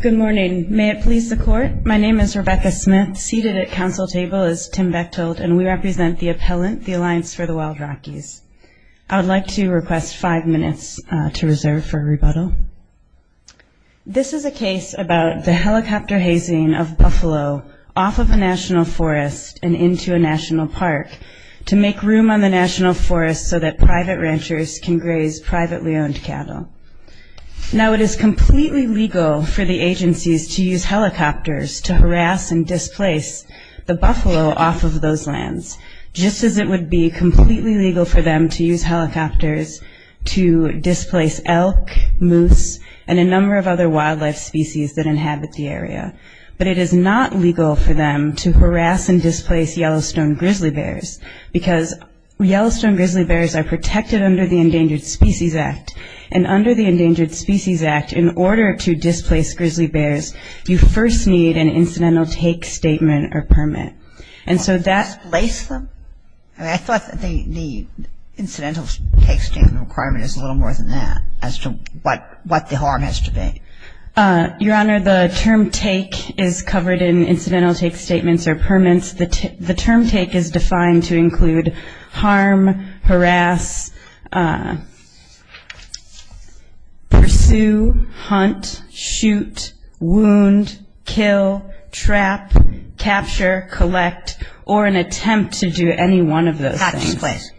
Good morning. May it please the Court. My name is Rebecca Smith, seated at Council Table as Tim Beck told, and we represent the appellant, the Alliance for the Wild Rockies. I would like to request five minutes to reserve for rebuttal. This is a case about the helicopter hazing of buffalo off of a national forest and into a national park to make room on the national forest so that private ranchers can graze privately owned cattle. Now it is completely legal for the agencies to use helicopters to harass and displace the buffalo off of those lands, just as it would be completely legal for them to use helicopters to displace elk, moose, and a number of other wildlife species that inhabit the area. But it is not legal for them to harass and displace Yellowstone grizzly bears, because Yellowstone grizzly bears are protected under the Endangered Species Act, and under the Endangered Species Act, in order to displace grizzly bears, you first need an incidental take statement or permit. And so that Displace them? I thought that the incidental take statement requirement is a little more than that, as to what the harm has to be. Your Honor, the term take is covered in incidental take statements or permits. The term take is defined to include harm, harass, pursue, hunt, shoot, wound, kill, trap, capture, collect, or an attempt to do any one of those things. Tax place.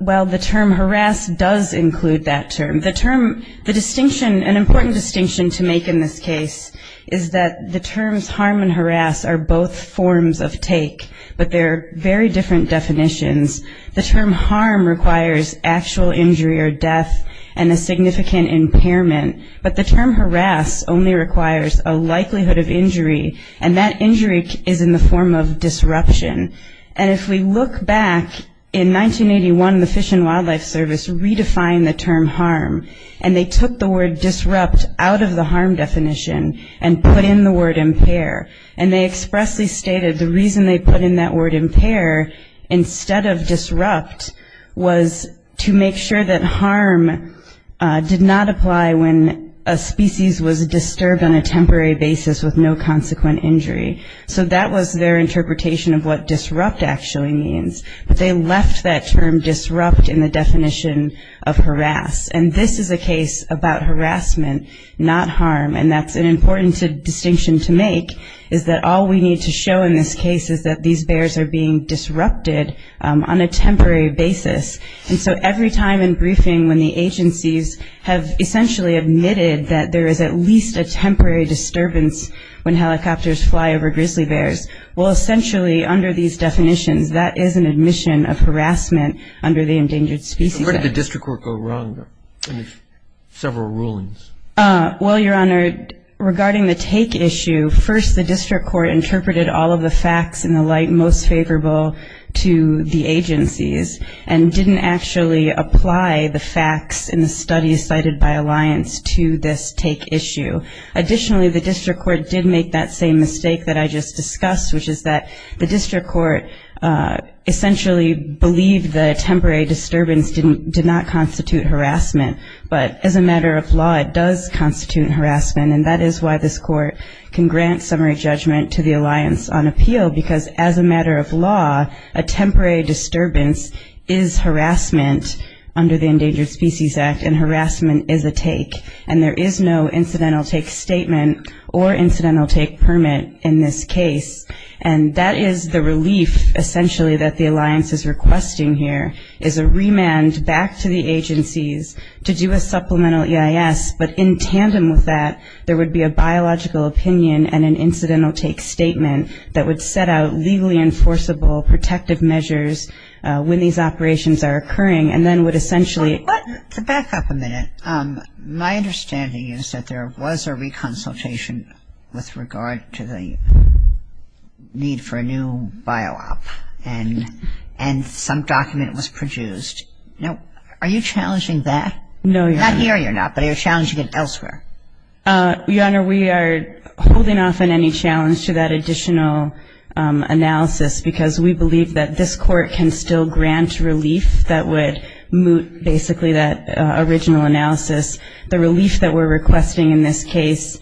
Well, the term harass does include that term. The term, the distinction, an important distinction to make in this case, is that the terms harm and harass are both forms of take, but they are very different definitions. The term harm requires actual injury or death and a significant impairment, but the term harass only requires a likelihood of injury, and that injury is in the form of disruption. And if we look back in 1981, the Fish and Wildlife Service redefined the term harm, and they took the word disrupt out of the harm definition and put in the word impair. And they expressly stated the reason they put in that word impair instead of disrupt was to make sure that harm did not apply when a species was disturbed on a temporary basis with no consequent injury. So that was their interpretation of what disrupt actually means, but they left that term disrupt in the definition of harass. And this is a case about harassment, not harm, and that's an important distinction to make, is that all we need to show in this case is that these bears are being disrupted on a temporary basis. And so every time in briefing when the agencies have essentially admitted that there is at least a temporary disturbance when helicopters fly over grizzly bears, well, essentially under these definitions, that is an admission of harassment under the Endangered Species Act. Where did the district court go wrong in several rulings? Well, Your Honor, regarding the take issue, first the district court interpreted all of the facts in the light most favorable to the agencies and didn't actually apply the facts in the studies cited by Alliance to this take issue. Additionally, the district court did make that same mistake that I just discussed, which is that the district court essentially believed that a temporary disturbance did not constitute harassment. But as a matter of law, it does constitute harassment, and that is why this court can grant summary judgment to the Alliance on appeal, because as a matter of law, a temporary disturbance is harassment under the Endangered Species Act, and harassment is a take. And there is no incidental take statement or incidental take permit in this case, and that is the relief essentially that the Alliance is requesting here, is a remand back to the agencies to do a supplemental EIS, but in tandem with that, there would be a biological opinion and an incidental take statement that would set out legally enforceable protective measures when these operations are occurring, and then would essentially to back up a minute, my understanding is that there was a reconsultation with regard to the need for a new bio-op, and some document was produced. Now, are you challenging that? No, Your Honor. Not here you're not, but you're challenging it elsewhere. Your Honor, we are holding off on any challenge to that additional analysis, because we believe that this court can still grant relief that would moot basically that original analysis. The relief that we're requesting in this case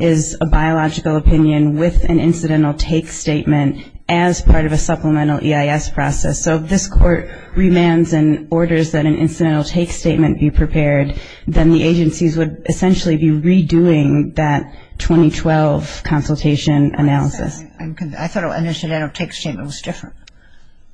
is a biological opinion with an incidental take statement as part of a supplemental EIS process. So if this court remands and orders that an incidental take statement be prepared, then the agencies would essentially be redoing that 2012 consultation analysis. I thought an incidental take statement was different.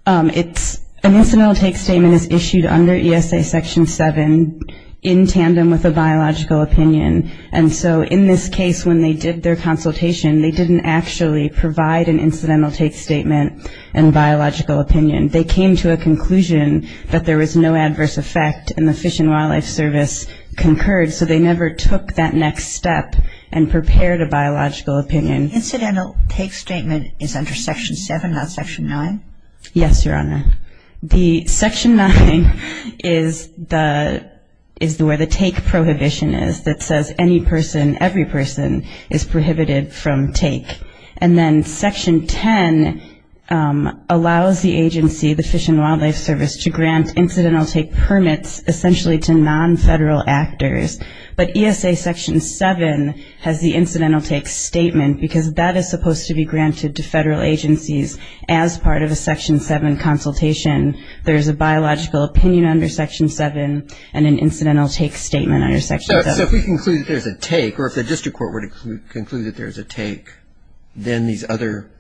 An incidental take statement is issued under ESA Section 7 in tandem with a biological opinion, and so in this case when they did their consultation, they didn't actually provide an incidental take statement and biological opinion. They came to a conclusion that there was no adverse effect, and the Fish and Wildlife Service concurred, so they never took that next step and prepared a biological opinion. An incidental take statement is under Section 7, not Section 9? Yes, Your Honor. The Section 9 is where the take prohibition is that says any person, every person, is prohibited from take. And then Section 10 allows the agency, the Fish and Wildlife Service, to grant incidental take permits essentially to nonfederal actors, but ESA Section 7 has the incidental take statement, because that is supposed to be granted to federal agencies as part of a Section 7 consultation. There is a biological opinion under Section 7 and an incidental take statement under Section 7. So if we conclude that there's a take, or if the district court were to conclude that there's a take, then these other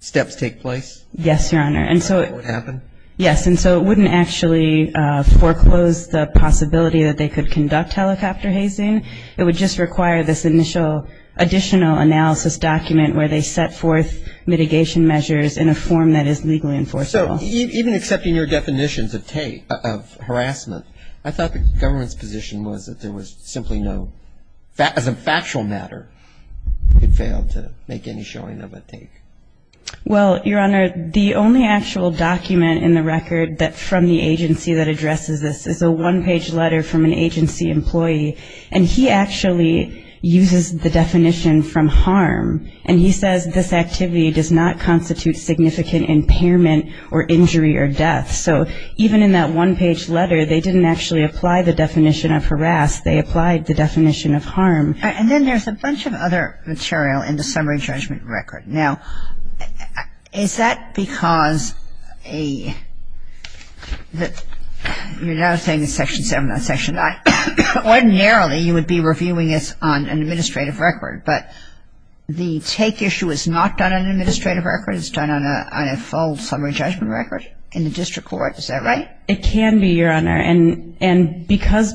steps take place? Yes, Your Honor. That would happen? Yes, and so it wouldn't actually foreclose the possibility that they could conduct helicopter hazing. It would just require this initial additional analysis document where they set forth mitigation measures in a form that is legally enforceable. So even accepting your definitions of take, of harassment, I thought the government's position was that there was simply no, as a factual matter, it failed to make any showing of a take. Well, Your Honor, the only actual document in the record from the agency that addresses this is a one-page letter from an agency employee, and he actually uses the definition from harm, and he says this activity does not constitute significant impairment or injury or death. So even in that one-page letter, they didn't actually apply the definition of harass. They applied the definition of harm. And then there's a bunch of other material in the summary judgment record. Now, is that because a you're now saying it's Section 7, not Section 9. Ordinarily, you would be reviewing this on an administrative record, but the take issue is not done on an administrative record. It's done on a full summary judgment record in the district court. Is that right? It can be, Your Honor, and because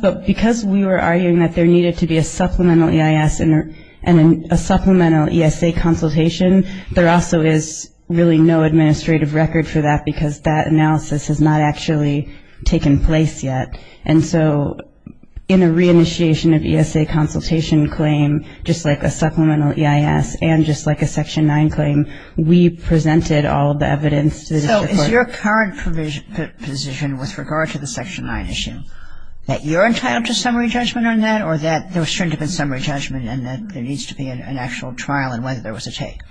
we were arguing that there needed to be a supplemental EIS and a supplemental ESA consultation, there also is really no administrative record for that because that analysis has not actually taken place yet. And so in a reinitiation of ESA consultation claim, just like a supplemental EIS and just like a Section 9 claim, we presented all of the evidence to the district court. So is your current position with regard to the Section 9 issue that you're entitled to summary judgment on that or that there was certain to have been summary judgment and that there needs to be an actual trial and whether there was a take?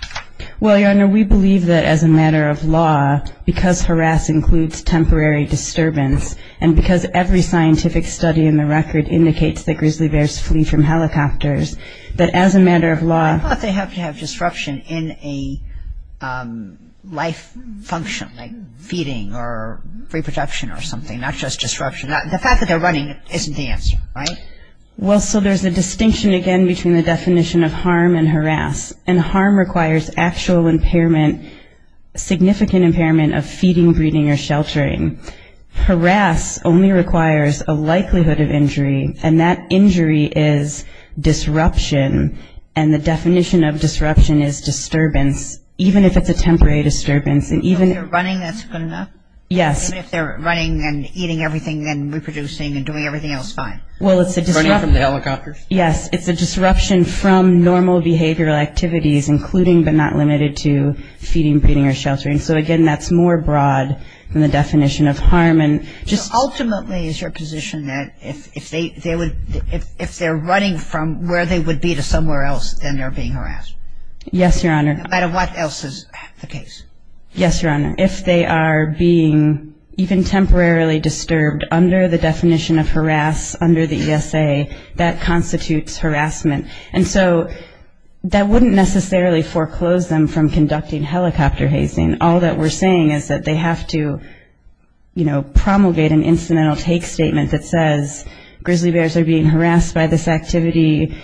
Well, Your Honor, we believe that as a matter of law, because harass includes temporary disturbance and because every scientific study in the record indicates that grizzly bears flee from helicopters, that as a matter of law ‑‑ I thought they have to have disruption in a life function, like feeding or reproduction or something, not just disruption. The fact that they're running isn't the answer, right? Well, so there's a distinction again between the definition of harm and harass. And harm requires actual impairment, significant impairment of feeding, breeding, or sheltering. Harass only requires a likelihood of injury and that injury is disruption and the definition of disruption is disturbance, even if it's a temporary disturbance. Even if they're running, that's good enough? Yes. Even if they're running and eating everything and reproducing and doing everything else fine? Well, it's a disruption. Running from the helicopters? Yes, it's a disruption from normal behavioral activities, including but not limited to feeding, breeding, or sheltering. So, again, that's more broad than the definition of harm. Ultimately, is your position that if they're running from where they would be to somewhere else, then they're being harassed? Yes, Your Honor. No matter what else is the case? Yes, Your Honor. If they are being even temporarily disturbed under the definition of harass under the ESA, that constitutes harassment. And so that wouldn't necessarily foreclose them from conducting helicopter hazing. All that we're saying is that they have to, you know, promulgate an incidental take statement that says grizzly bears are being harassed by this activity.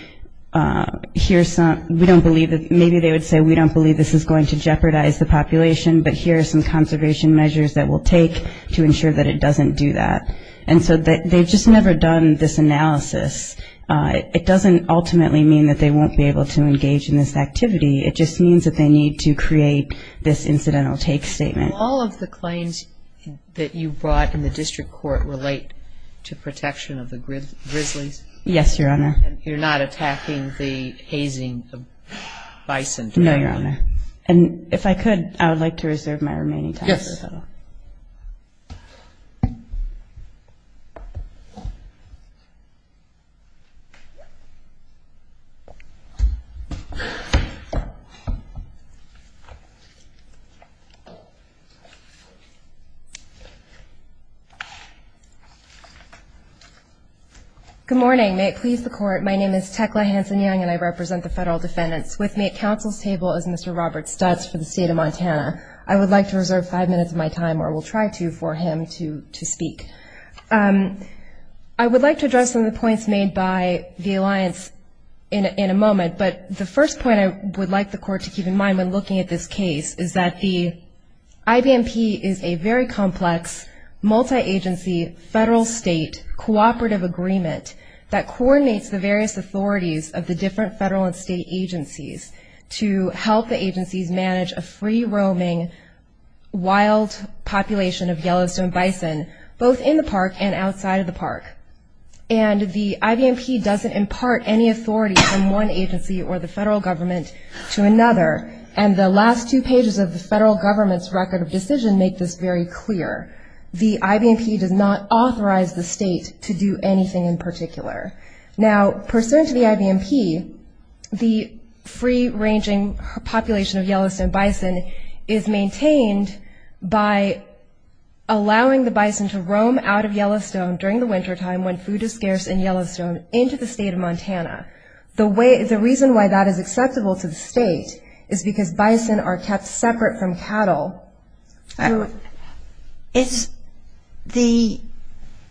Maybe they would say, we don't believe this is going to jeopardize the population, but here are some conservation measures that we'll take to ensure that it doesn't do that. And so they've just never done this analysis. It doesn't ultimately mean that they won't be able to engage in this activity. It just means that they need to create this incidental take statement. All of the claims that you brought in the district court relate to protection of the grizzlies? Yes, Your Honor. And you're not attacking the hazing of bison? No, Your Honor. And if I could, I would like to reserve my remaining time. Yes, Your Honor. Thank you. Good morning. May it please the Court, my name is Tekla Hanson-Young, and I represent the federal defendants. With me at counsel's table is Mr. Robert Stutz for the state of Montana. I would like to reserve five minutes of my time, or will try to, for him to speak. I would like to address some of the points made by the alliance in a moment, but the first point I would like the Court to keep in mind when looking at this case is that the IBMP is a very complex, multi-agency, federal-state cooperative agreement that coordinates the various authorities of the different federal and state agencies to help the agencies manage a free-roaming, wild population of Yellowstone bison, both in the park and outside of the park. And the IBMP doesn't impart any authority from one agency or the federal government to another, and the last two pages of the federal government's record of decision make this very clear. The IBMP does not authorize the state to do anything in particular. Now, pursuant to the IBMP, the free-ranging population of Yellowstone bison is maintained by allowing the bison to roam out of Yellowstone during the wintertime when food is scarce in Yellowstone into the state of Montana. The reason why that is acceptable to the state is because bison are kept separate from cattle. It's the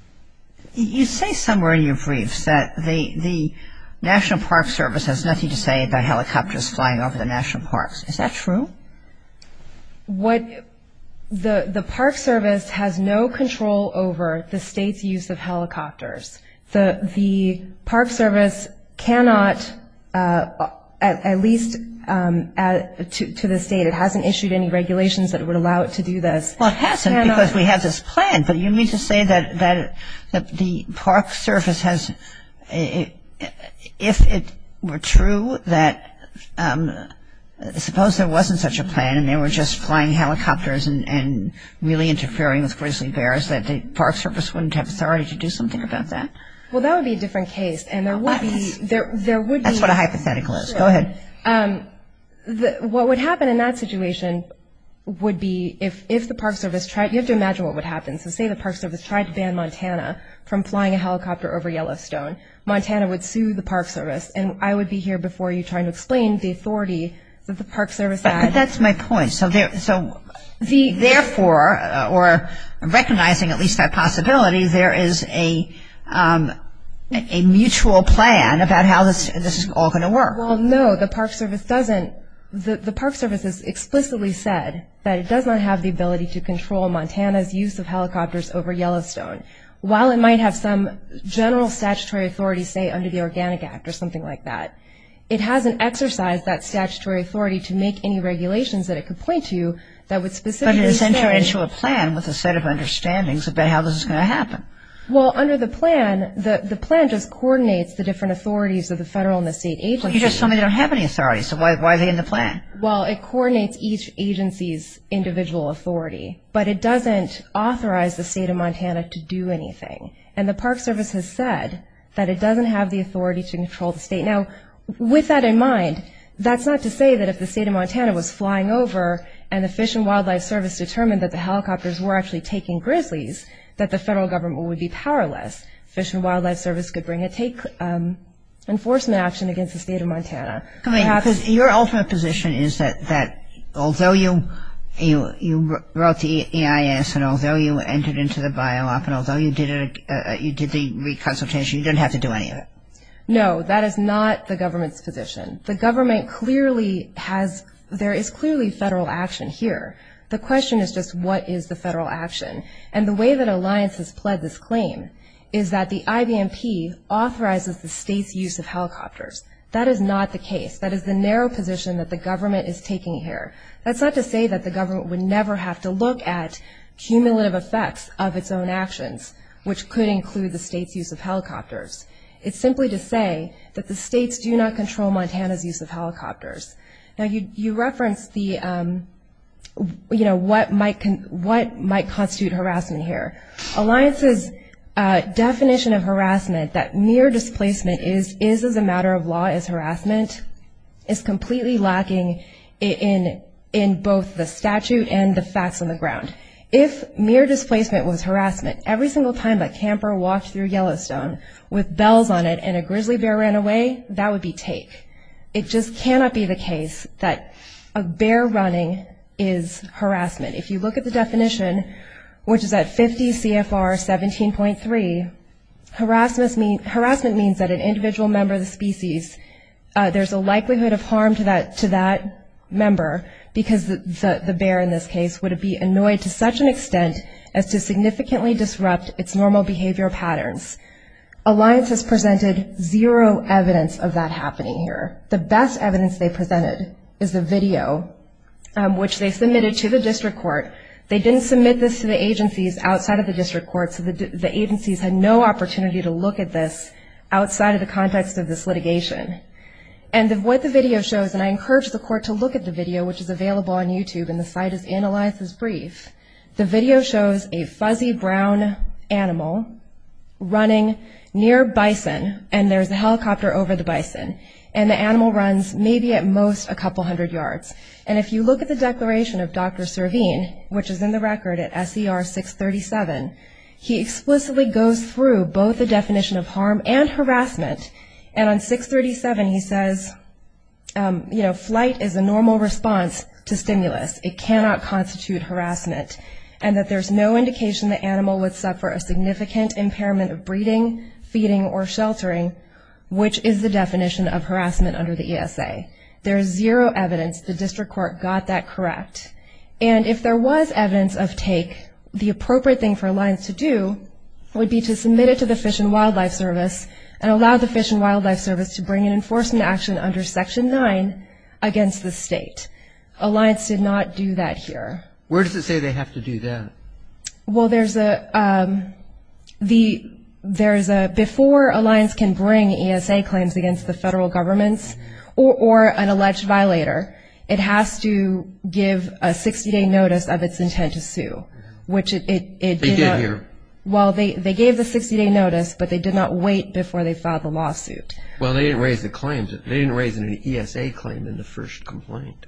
– you say somewhere in your briefs that the National Park Service has nothing to say about helicopters flying over the national parks. Is that true? What – the Park Service has no control over the state's use of helicopters. The Park Service cannot, at least to this date, it hasn't issued any regulations that would allow it to do this. Well, it hasn't because we have this plan, but you mean to say that the Park Service has – if it were true that – suppose there wasn't such a plan and they were just flying helicopters and really interfering with grizzly bears, that the Park Service wouldn't have authority to do something about that? Well, that would be a different case, and there would be – That's what a hypothetical is. Go ahead. What would happen in that situation would be if the Park Service tried – you have to imagine what would happen. So say the Park Service tried to ban Montana from flying a helicopter over Yellowstone. Montana would sue the Park Service, and I would be here before you trying to explain the authority that the Park Service had. But that's my point. So therefore, or recognizing at least that possibility, there is a mutual plan about how this is all going to work. Well, no, the Park Service doesn't – the Park Service has explicitly said that it does not have the ability to control Montana's use of helicopters over Yellowstone. While it might have some general statutory authority, say, under the Organic Act or something like that, it hasn't exercised that statutory authority to make any regulations that it could point to that would specifically say – But it has entered into a plan with a set of understandings about how this is going to happen. Well, under the plan, the plan just coordinates the different authorities of the federal and the state agencies. But you just tell me they don't have any authority, so why are they in the plan? Well, it coordinates each agency's individual authority, but it doesn't authorize the state of Montana to do anything. And the Park Service has said that it doesn't have the authority to control the state. Now, with that in mind, that's not to say that if the state of Montana was flying over and the Fish and Wildlife Service determined that the helicopters were actually taking grizzlies, that the federal government would be powerless. The Fish and Wildlife Service could bring a enforcement action against the state of Montana. Because your ultimate position is that although you wrote the EIS and although you entered into the BiOp and although you did the reconsultation, you didn't have to do any of it. No, that is not the government's position. The government clearly has – there is clearly federal action here. The question is just what is the federal action. And the way that Alliance has pled this claim is that the IBMP authorizes the state's use of helicopters. That is not the case. That is the narrow position that the government is taking here. That's not to say that the government would never have to look at cumulative effects of its own actions, which could include the state's use of helicopters. It's simply to say that the states do not control Montana's use of helicopters. Now you referenced what might constitute harassment here. Alliance's definition of harassment, that mere displacement is as a matter of law as harassment, is completely lacking in both the statute and the facts on the ground. If mere displacement was harassment, every single time a camper walked through Yellowstone with bells on it and a grizzly bear ran away, that would be take. It just cannot be the case that a bear running is harassment. If you look at the definition, which is at 50 CFR 17.3, harassment means that an individual member of the species, there's a likelihood of harm to that member because the bear in this case would be annoyed to such an extent as to significantly disrupt its normal behavior patterns. Alliance has presented zero evidence of that happening here. The best evidence they presented is the video, which they submitted to the district court. They didn't submit this to the agencies outside of the district court, so the agencies had no opportunity to look at this outside of the context of this litigation. And what the video shows, and I encourage the court to look at the video, which is available on YouTube, and the site is analyzed as brief. The video shows a fuzzy brown animal running near bison, and there's a helicopter over the bison, and the animal runs maybe at most a couple hundred yards. And if you look at the declaration of Dr. Servine, which is in the record at SER 637, he explicitly goes through both the definition of harm and harassment, and on 637 he says, you know, flight is a normal response to stimulus. It cannot constitute harassment, and that there's no indication the animal would suffer a significant impairment of breeding, feeding, or sheltering, which is the definition of harassment under the ESA. There's zero evidence the district court got that correct. And if there was evidence of take, the appropriate thing for Alliance to do would be to submit it to the Fish and Wildlife Service and allow the Fish and Wildlife Service to bring an enforcement action under Section 9 against the state. But Alliance did not do that here. Where does it say they have to do that? Well, there's a, before Alliance can bring ESA claims against the federal governments or an alleged violator, it has to give a 60-day notice of its intent to sue, which it did. They did here. Well, they gave the 60-day notice, but they did not wait before they filed the lawsuit. Well, they didn't raise the claims. They didn't raise an ESA claim in the first complaint.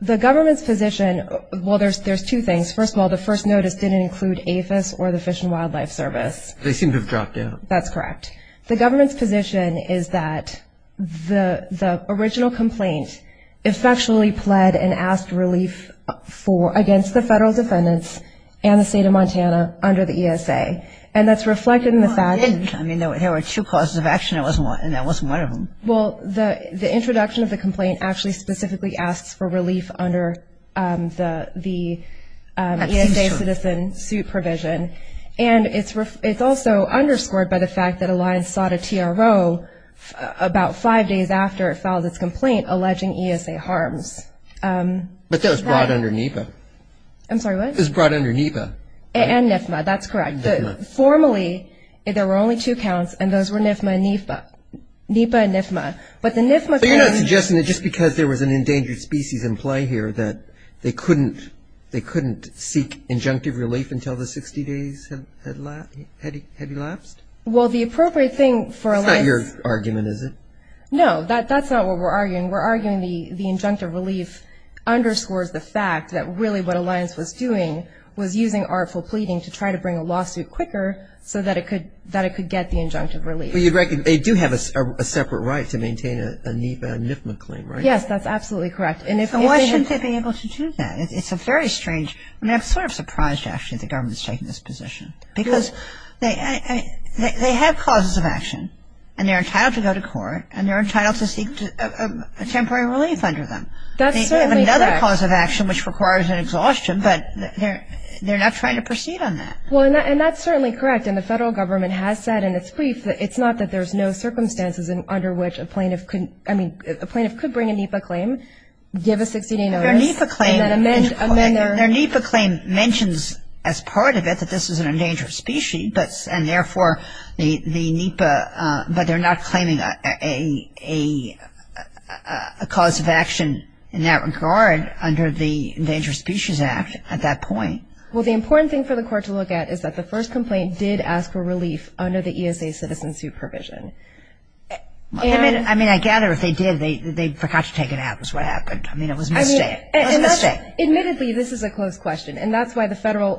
The government's position, well, there's two things. First of all, the first notice didn't include APHIS or the Fish and Wildlife Service. They seem to have dropped out. That's correct. The government's position is that the original complaint effectually pled and asked relief for, against the federal defendants and the state of Montana under the ESA. And that's reflected in the fact. Well, they didn't. I mean, there were two causes of action and that wasn't one of them. Well, the introduction of the complaint actually specifically asks for relief under the ESA citizen suit provision. And it's also underscored by the fact that Alliance sought a TRO about five days after it filed its complaint alleging ESA harms. But that was brought under NEPA. I'm sorry, what? It was brought under NEPA. And NFMA, that's correct. NFMA. Normally, there were only two counts, and those were NEPA and NFMA. But the NEPA claim... So you're not suggesting that just because there was an endangered species in play here that they couldn't seek injunctive relief until the 60 days had elapsed? Well, the appropriate thing for Alliance... That's not your argument, is it? No, that's not what we're arguing. We're arguing the injunctive relief underscores the fact that really what Alliance was doing was using artful pleading to try to bring a lawsuit quicker so that it could get the injunctive relief. Well, you'd reckon they do have a separate right to maintain a NEPA and NFMA claim, right? Yes, that's absolutely correct. So why shouldn't they be able to do that? It's a very strange... I mean, I'm sort of surprised, actually, that the government has taken this position. Because they have causes of action, and they're entitled to go to court, That's certainly correct. which requires an exhaustion, but they're not trying to proceed on that. Well, and that's certainly correct. And the federal government has said in its brief that it's not that there's no circumstances under which a plaintiff could bring a NEPA claim, give a 60-day notice... Their NEPA claim mentions as part of it that this is an endangered species, and therefore the NEPA... But they're not claiming a cause of action in that regard under the Endangered Species Act at that point. Well, the important thing for the court to look at is that the first complaint did ask for relief under the ESA citizen supervision. I mean, I gather if they did, they forgot to take it out is what happened. I mean, it was a mistake. Admittedly, this is a close question, and that's why the federal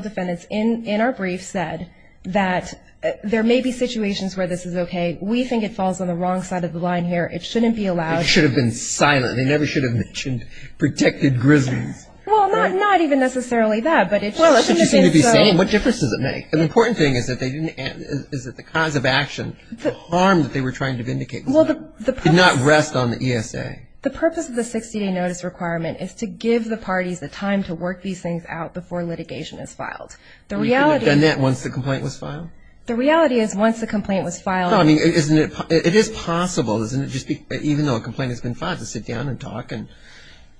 defendants in our brief said that there may be situations where this is okay. We think it falls on the wrong side of the line here. It shouldn't be allowed. It should have been silent. They never should have mentioned protected grizzlies. Well, not even necessarily that, but it shouldn't have been so... What difference does it make? The important thing is that the cause of action, the harm that they were trying to vindicate, did not rest on the ESA. The purpose of the 60-day notice requirement is to give the parties the time to work these things out before litigation is filed. The reality... We can have done that once the complaint was filed? The reality is once the complaint was filed... No, I mean, isn't it... It is possible, isn't it, even though a complaint has been filed, to sit down and talk and,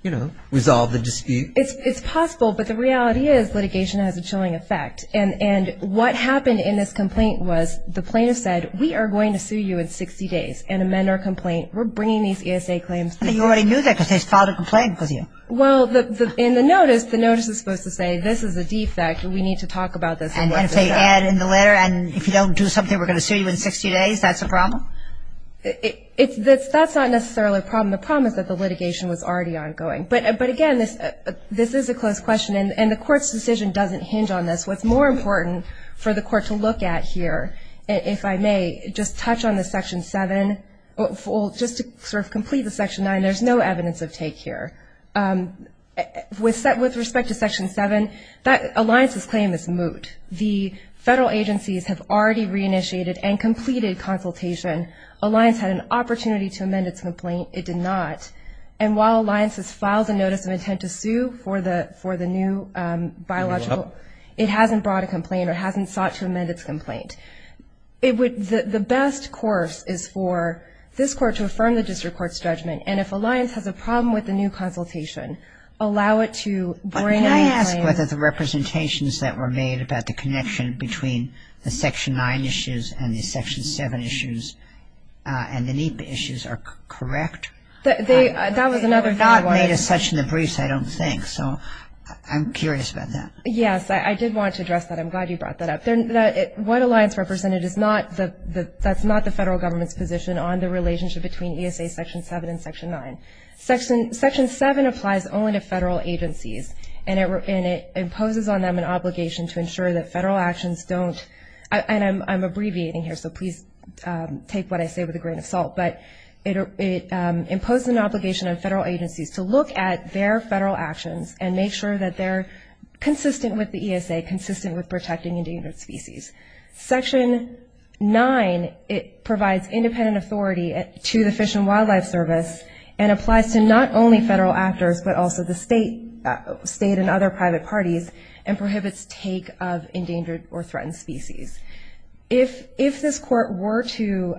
you know, resolve the dispute? It's possible, but the reality is litigation has a chilling effect. And what happened in this complaint was the plaintiff said, we are going to sue you in 60 days and amend our complaint. We're bringing these ESA claims to you. You already knew that because they filed a complaint with you. Well, in the notice, the notice is supposed to say this is a defect and we need to talk about this. And if they add in the letter and if you don't do something, we're going to sue you in 60 days, that's a problem? That's not necessarily a problem. The problem is that the litigation was already ongoing. But, again, this is a close question, and the Court's decision doesn't hinge on this. What's more important for the Court to look at here, if I may, just touch on the Section 7. Just to sort of complete the Section 9, there's no evidence of take here. With respect to Section 7, that alliance's claim is moot. The federal agencies have already reinitiated and completed consultation. Alliance had an opportunity to amend its complaint. It did not. And while alliance has filed a notice of intent to sue for the new biological, it hasn't brought a complaint or hasn't sought to amend its complaint. The best course is for this Court to affirm the district court's judgment, and if alliance has a problem with the new consultation, allow it to bring a new claim. Can I ask whether the representations that were made about the connection between the Section 9 issues and the Section 7 issues and the NEPA issues are correct? They were not made as such in the briefs, I don't think, so I'm curious about that. Yes, I did want to address that. I'm glad you brought that up. What alliance represented is not the federal government's position on the relationship between ESA Section 7 and Section 9. Section 7 applies only to federal agencies, and it imposes on them an obligation to ensure that federal actions don't, and I'm abbreviating here, so please take what I say with a grain of salt, but it imposes an obligation on federal agencies to look at their federal actions and make sure that they're consistent with the ESA, consistent with protecting endangered species. Section 9, it provides independent authority to the Fish and Wildlife Service and applies to not only federal actors but also the state and other private parties and prohibits take of endangered or threatened species. If this Court were to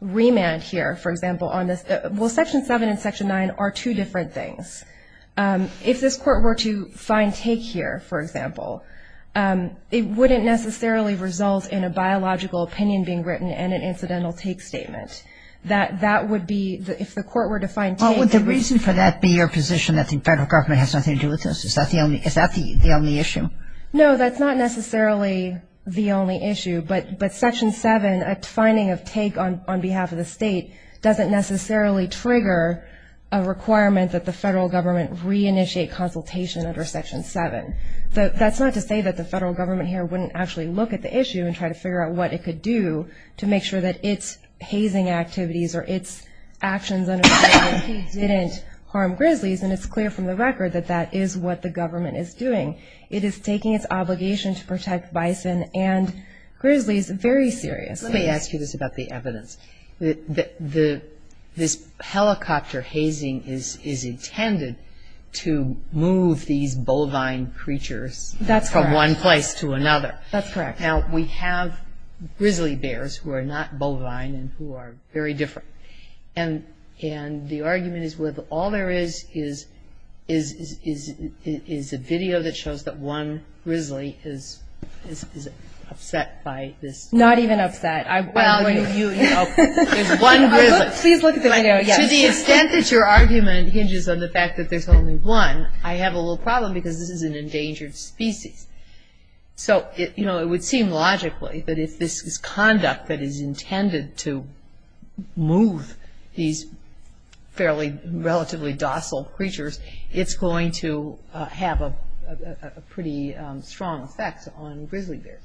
remand here, for example, on this, well, Section 7 and Section 9 are two different things. If this Court were to find take here, for example, it wouldn't necessarily result in a biological opinion being written and an incidental take statement. That would be, if the Court were to find take. Well, would the reason for that be your position that the federal government has nothing to do with this? Is that the only issue? No, that's not necessarily the only issue, but Section 7, a finding of take on behalf of the state doesn't necessarily trigger a requirement that the federal government reinitiate consultation under Section 7. That's not to say that the federal government here wouldn't actually look at the issue and try to figure out what it could do to make sure that its hazing activities or its actions under Section 8 didn't harm grizzlies, and it's clear from the record that that is what the government is doing. It is taking its obligation to protect bison and grizzlies very seriously. Let me ask you this about the evidence. This helicopter hazing is intended to move these bovine creatures from one place to another. That's correct. Now, we have grizzly bears who are not bovine and who are very different, and the argument is with all there is is a video that shows that one grizzly is upset by this. Not even upset. Well, you know, there's one grizzly. Please look at the video, yes. To the extent that your argument hinges on the fact that there's only one, I have a little problem because this is an endangered species. So, you know, it would seem logically that if this conduct that is intended to move these fairly relatively docile creatures, it's going to have a pretty strong effect on grizzly bears.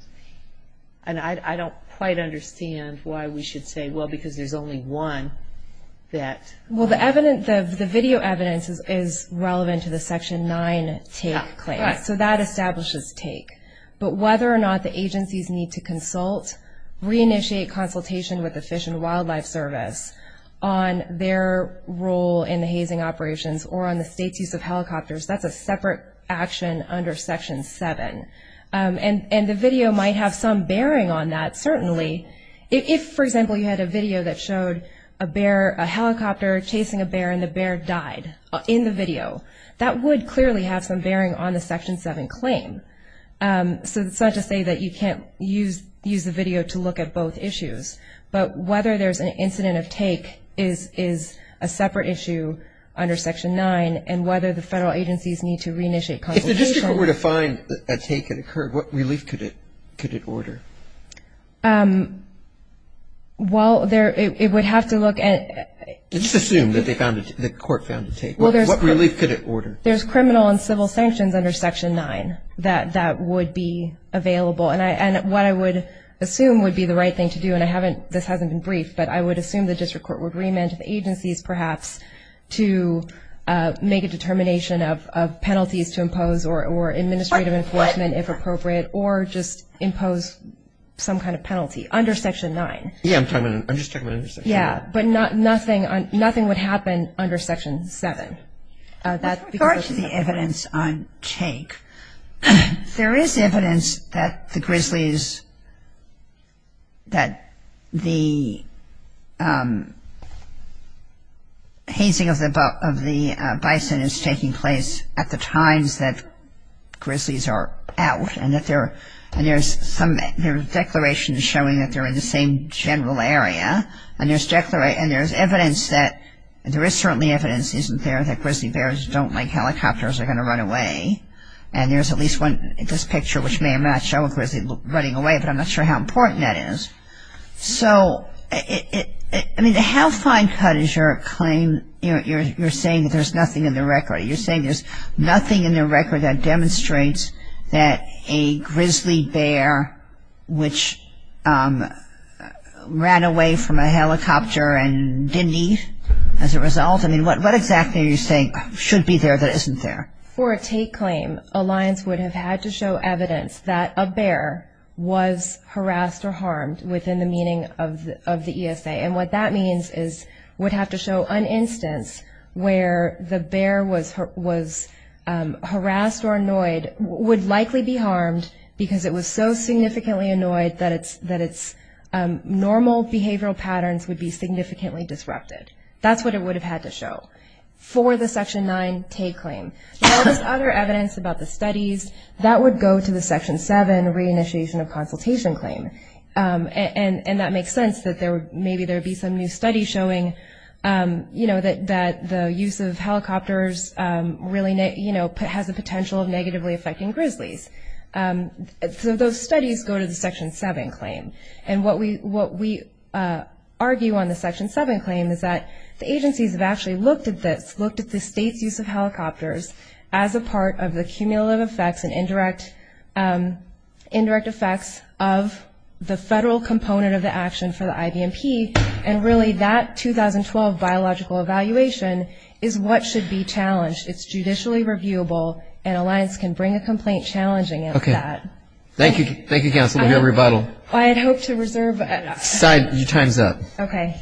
And I don't quite understand why we should say, well, because there's only one that... Well, the video evidence is relevant to the Section 9 take claim. Right. So that establishes take. But whether or not the agencies need to consult, reinitiate consultation with the Fish and Wildlife Service on their role in the hazing operations or on the state's use of helicopters, that's a separate action under Section 7. And the video might have some bearing on that, certainly. If, for example, you had a video that showed a bear, a helicopter chasing a bear, and the bear died in the video, that would clearly have some bearing on the Section 7 claim. So it's not to say that you can't use the video to look at both issues, but whether there's an incident of take is a separate issue under Section 9 and whether the federal agencies need to reinitiate consultation. If the district were to find a take had occurred, what relief could it order? Well, it would have to look at... Let's assume that the court found a take. What relief could it order? There's criminal and civil sanctions under Section 9 that would be available. And what I would assume would be the right thing to do, and this hasn't been briefed, but I would assume the district court would remand to the agencies, perhaps, to make a determination of penalties to impose or administrative enforcement, if appropriate, or just impose some kind of penalty under Section 9. Yeah, I'm just talking about under Section 9. Yeah, but nothing would happen under Section 7. With regard to the evidence on take, there is evidence that the grizzlies, that the hazing of the bison is taking place at the times that grizzlies are out And there's declarations showing that they're in the same general area. And there's evidence that there is certainly evidence, isn't there, that grizzly bears don't like helicopters are going to run away. And there's at least one in this picture which may or may not show a grizzly running away, but I'm not sure how important that is. So, I mean, how fine cut is your claim? You're saying that there's nothing in the record. that a grizzly bear which ran away from a helicopter and didn't eat as a result? I mean, what exactly are you saying should be there that isn't there? For a take claim, Alliance would have had to show evidence that a bear was harassed or harmed within the meaning of the ESA. And what that means is would have to show an instance where the bear was harassed or annoyed would likely be harmed because it was so significantly annoyed that its normal behavioral patterns would be significantly disrupted. That's what it would have had to show for the Section 9 take claim. There was other evidence about the studies. That would go to the Section 7 re-initiation of consultation claim. And that makes sense that maybe there would be some new studies showing that the use of helicopters really has a potential of negatively affecting grizzlies. So those studies go to the Section 7 claim. And what we argue on the Section 7 claim is that the agencies have actually looked at this, looked at the state's use of helicopters as a part of the cumulative effects and indirect effects of the federal component of the action for the IVMP. And really that 2012 biological evaluation is what should be challenged. It's judicially reviewable, and Alliance can bring a complaint challenging it at that. Okay. Thank you. Thank you, counsel. We'll give you a rebuttal. I had hoped to reserve. Your time's up. Okay.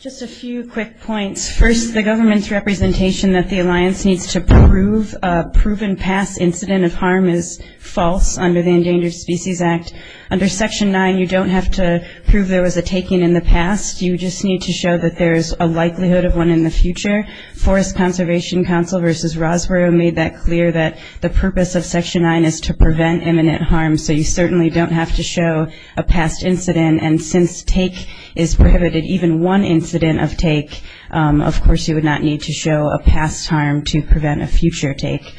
Just a few quick points. First, the government's representation that the Alliance needs to prove a proven past incident of harm is false under the Endangered Species Act. Under Section 9, you don't have to prove there was a taking in the past. You just need to show that there's a likelihood of one in the future. Forest Conservation Council versus Rosborough made that clear, that the purpose of Section 9 is to prevent imminent harm. So you certainly don't have to show a past incident. And since take is prohibited, even one incident of take, of course, you would not need to show a past harm to prevent a future take.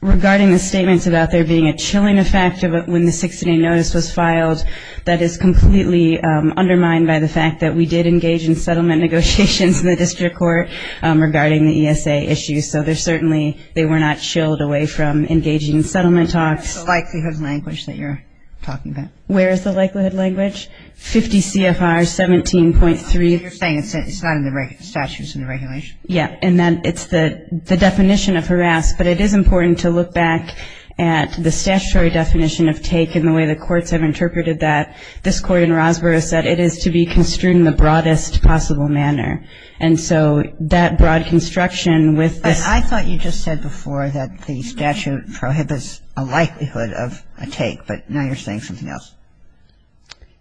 Regarding the statements about there being a chilling effect when the six-day notice was filed, that is completely undermined by the fact that we did engage in settlement negotiations in the district court regarding the ESA issues. So there's certainly they were not chilled away from engaging in settlement talks. What's the likelihood language that you're talking about? Where is the likelihood language? 50 CFR 17.3. So you're saying it's not in the statute, it's in the regulation? Yeah. And then it's the definition of harass, but it is important to look back at the statutory definition of take and the way the courts have interpreted that. This court in Rosborough said it is to be construed in the broadest possible manner. And so that broad construction with this. I thought you just said before that the statute prohibits a likelihood of a take, but now you're saying something else.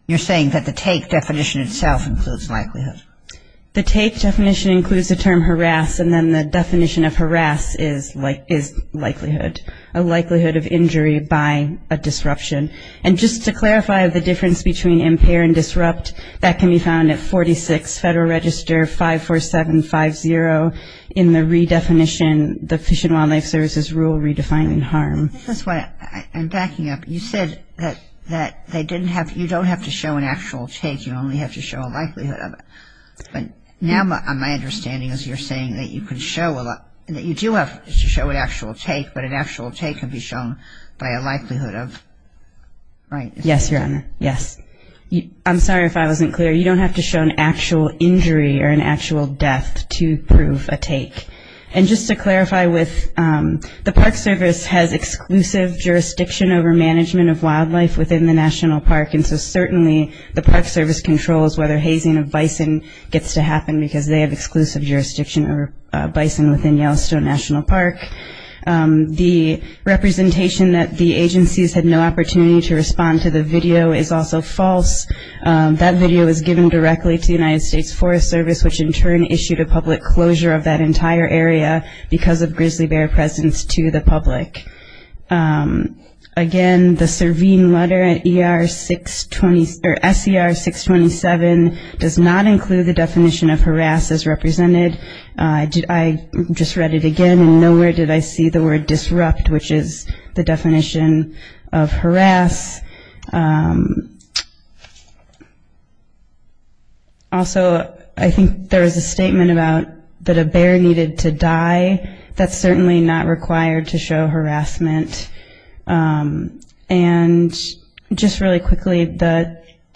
You're saying that the take definition itself includes likelihood. The take definition includes the term harass, and then the definition of harass is likelihood, a likelihood of injury by a disruption. And just to clarify the difference between impair and disrupt, that can be found at 46 Federal Register 54750 in the redefinition, the Fish and Wildlife Service's Rule Redefining Harm. This is why I'm backing up. You said that you don't have to show an actual take, you only have to show a likelihood of it. But now my understanding is you're saying that you do have to show an actual take, but an actual take can be shown by a likelihood of, right? Yes, Your Honor. Yes. I'm sorry if I wasn't clear. You don't have to show an actual injury or an actual death to prove a take. And just to clarify, the Park Service has exclusive jurisdiction over management of wildlife within the National Park, and so certainly the Park Service controls whether hazing of bison gets to happen because they have exclusive jurisdiction over bison within Yellowstone National Park. The representation that the agencies had no opportunity to respond to the video is also false. That video was given directly to the United States Forest Service, which in turn issued a public closure of that entire area because of grizzly bear presence to the public. Again, the Serene Letter at SCR 627 does not include the definition of harass as represented. I just read it again, and nowhere did I see the word disrupt, which is the definition of harass. Also, I think there is a statement about that a bear needed to die. That's certainly not required to show harassment. And just really quickly,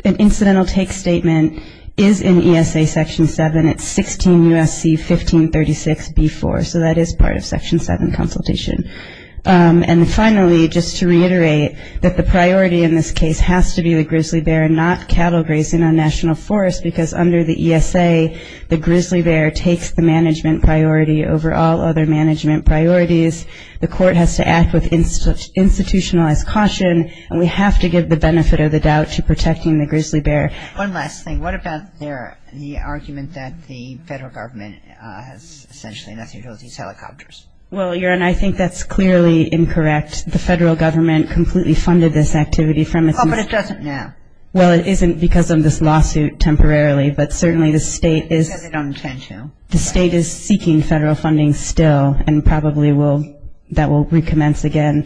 an incidental take statement is in ESA Section 7. It's 16 U.S.C. 1536b4, so that is part of Section 7 consultation. And finally, just to reiterate, that the priority in this case has to be the grizzly bear and not cattle grazing on national forests because under the ESA, the grizzly bear takes the management priority over all other management priorities. The court has to act with institutionalized caution, and we have to give the benefit of the doubt to protecting the grizzly bear. One last thing. What about the argument that the federal government has essentially nothing to do with these helicopters? Well, Erin, I think that's clearly incorrect. The federal government completely funded this activity from its own- Oh, but it doesn't now. Well, it isn't because of this lawsuit temporarily, but certainly the state is- Because they don't intend to. The state is seeking federal funding still and probably that will recommence again.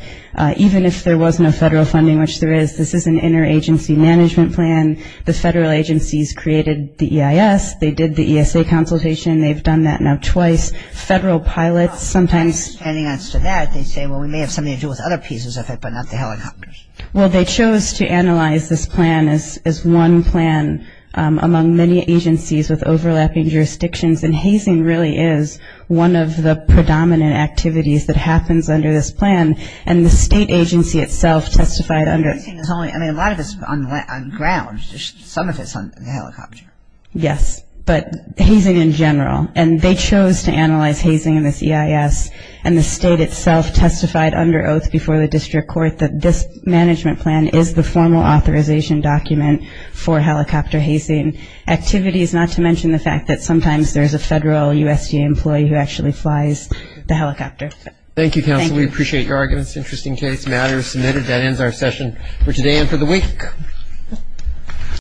Even if there was no federal funding, which there is, this is an interagency management plan. The federal agencies created the EIS. They did the ESA consultation. They've done that now twice. Federal pilots sometimes- Expanding on to that, they say, well, we may have something to do with other pieces of it, but not the helicopters. Well, they chose to analyze this plan as one plan among many agencies with overlapping jurisdictions, and hazing really is one of the predominant activities that happens under this plan, and the state agency itself testified under it. I mean, a lot of it's on ground. Some of it's on the helicopter. Yes, but hazing in general. And they chose to analyze hazing in this EIS, and the state itself testified under oath before the district court that this management plan is the formal authorization document for helicopter hazing activities, not to mention the fact that sometimes there's a federal USDA employee who actually flies the helicopter. Thank you, counsel. We appreciate your arguments. Interesting case matters submitted. That ends our session for today and for the week.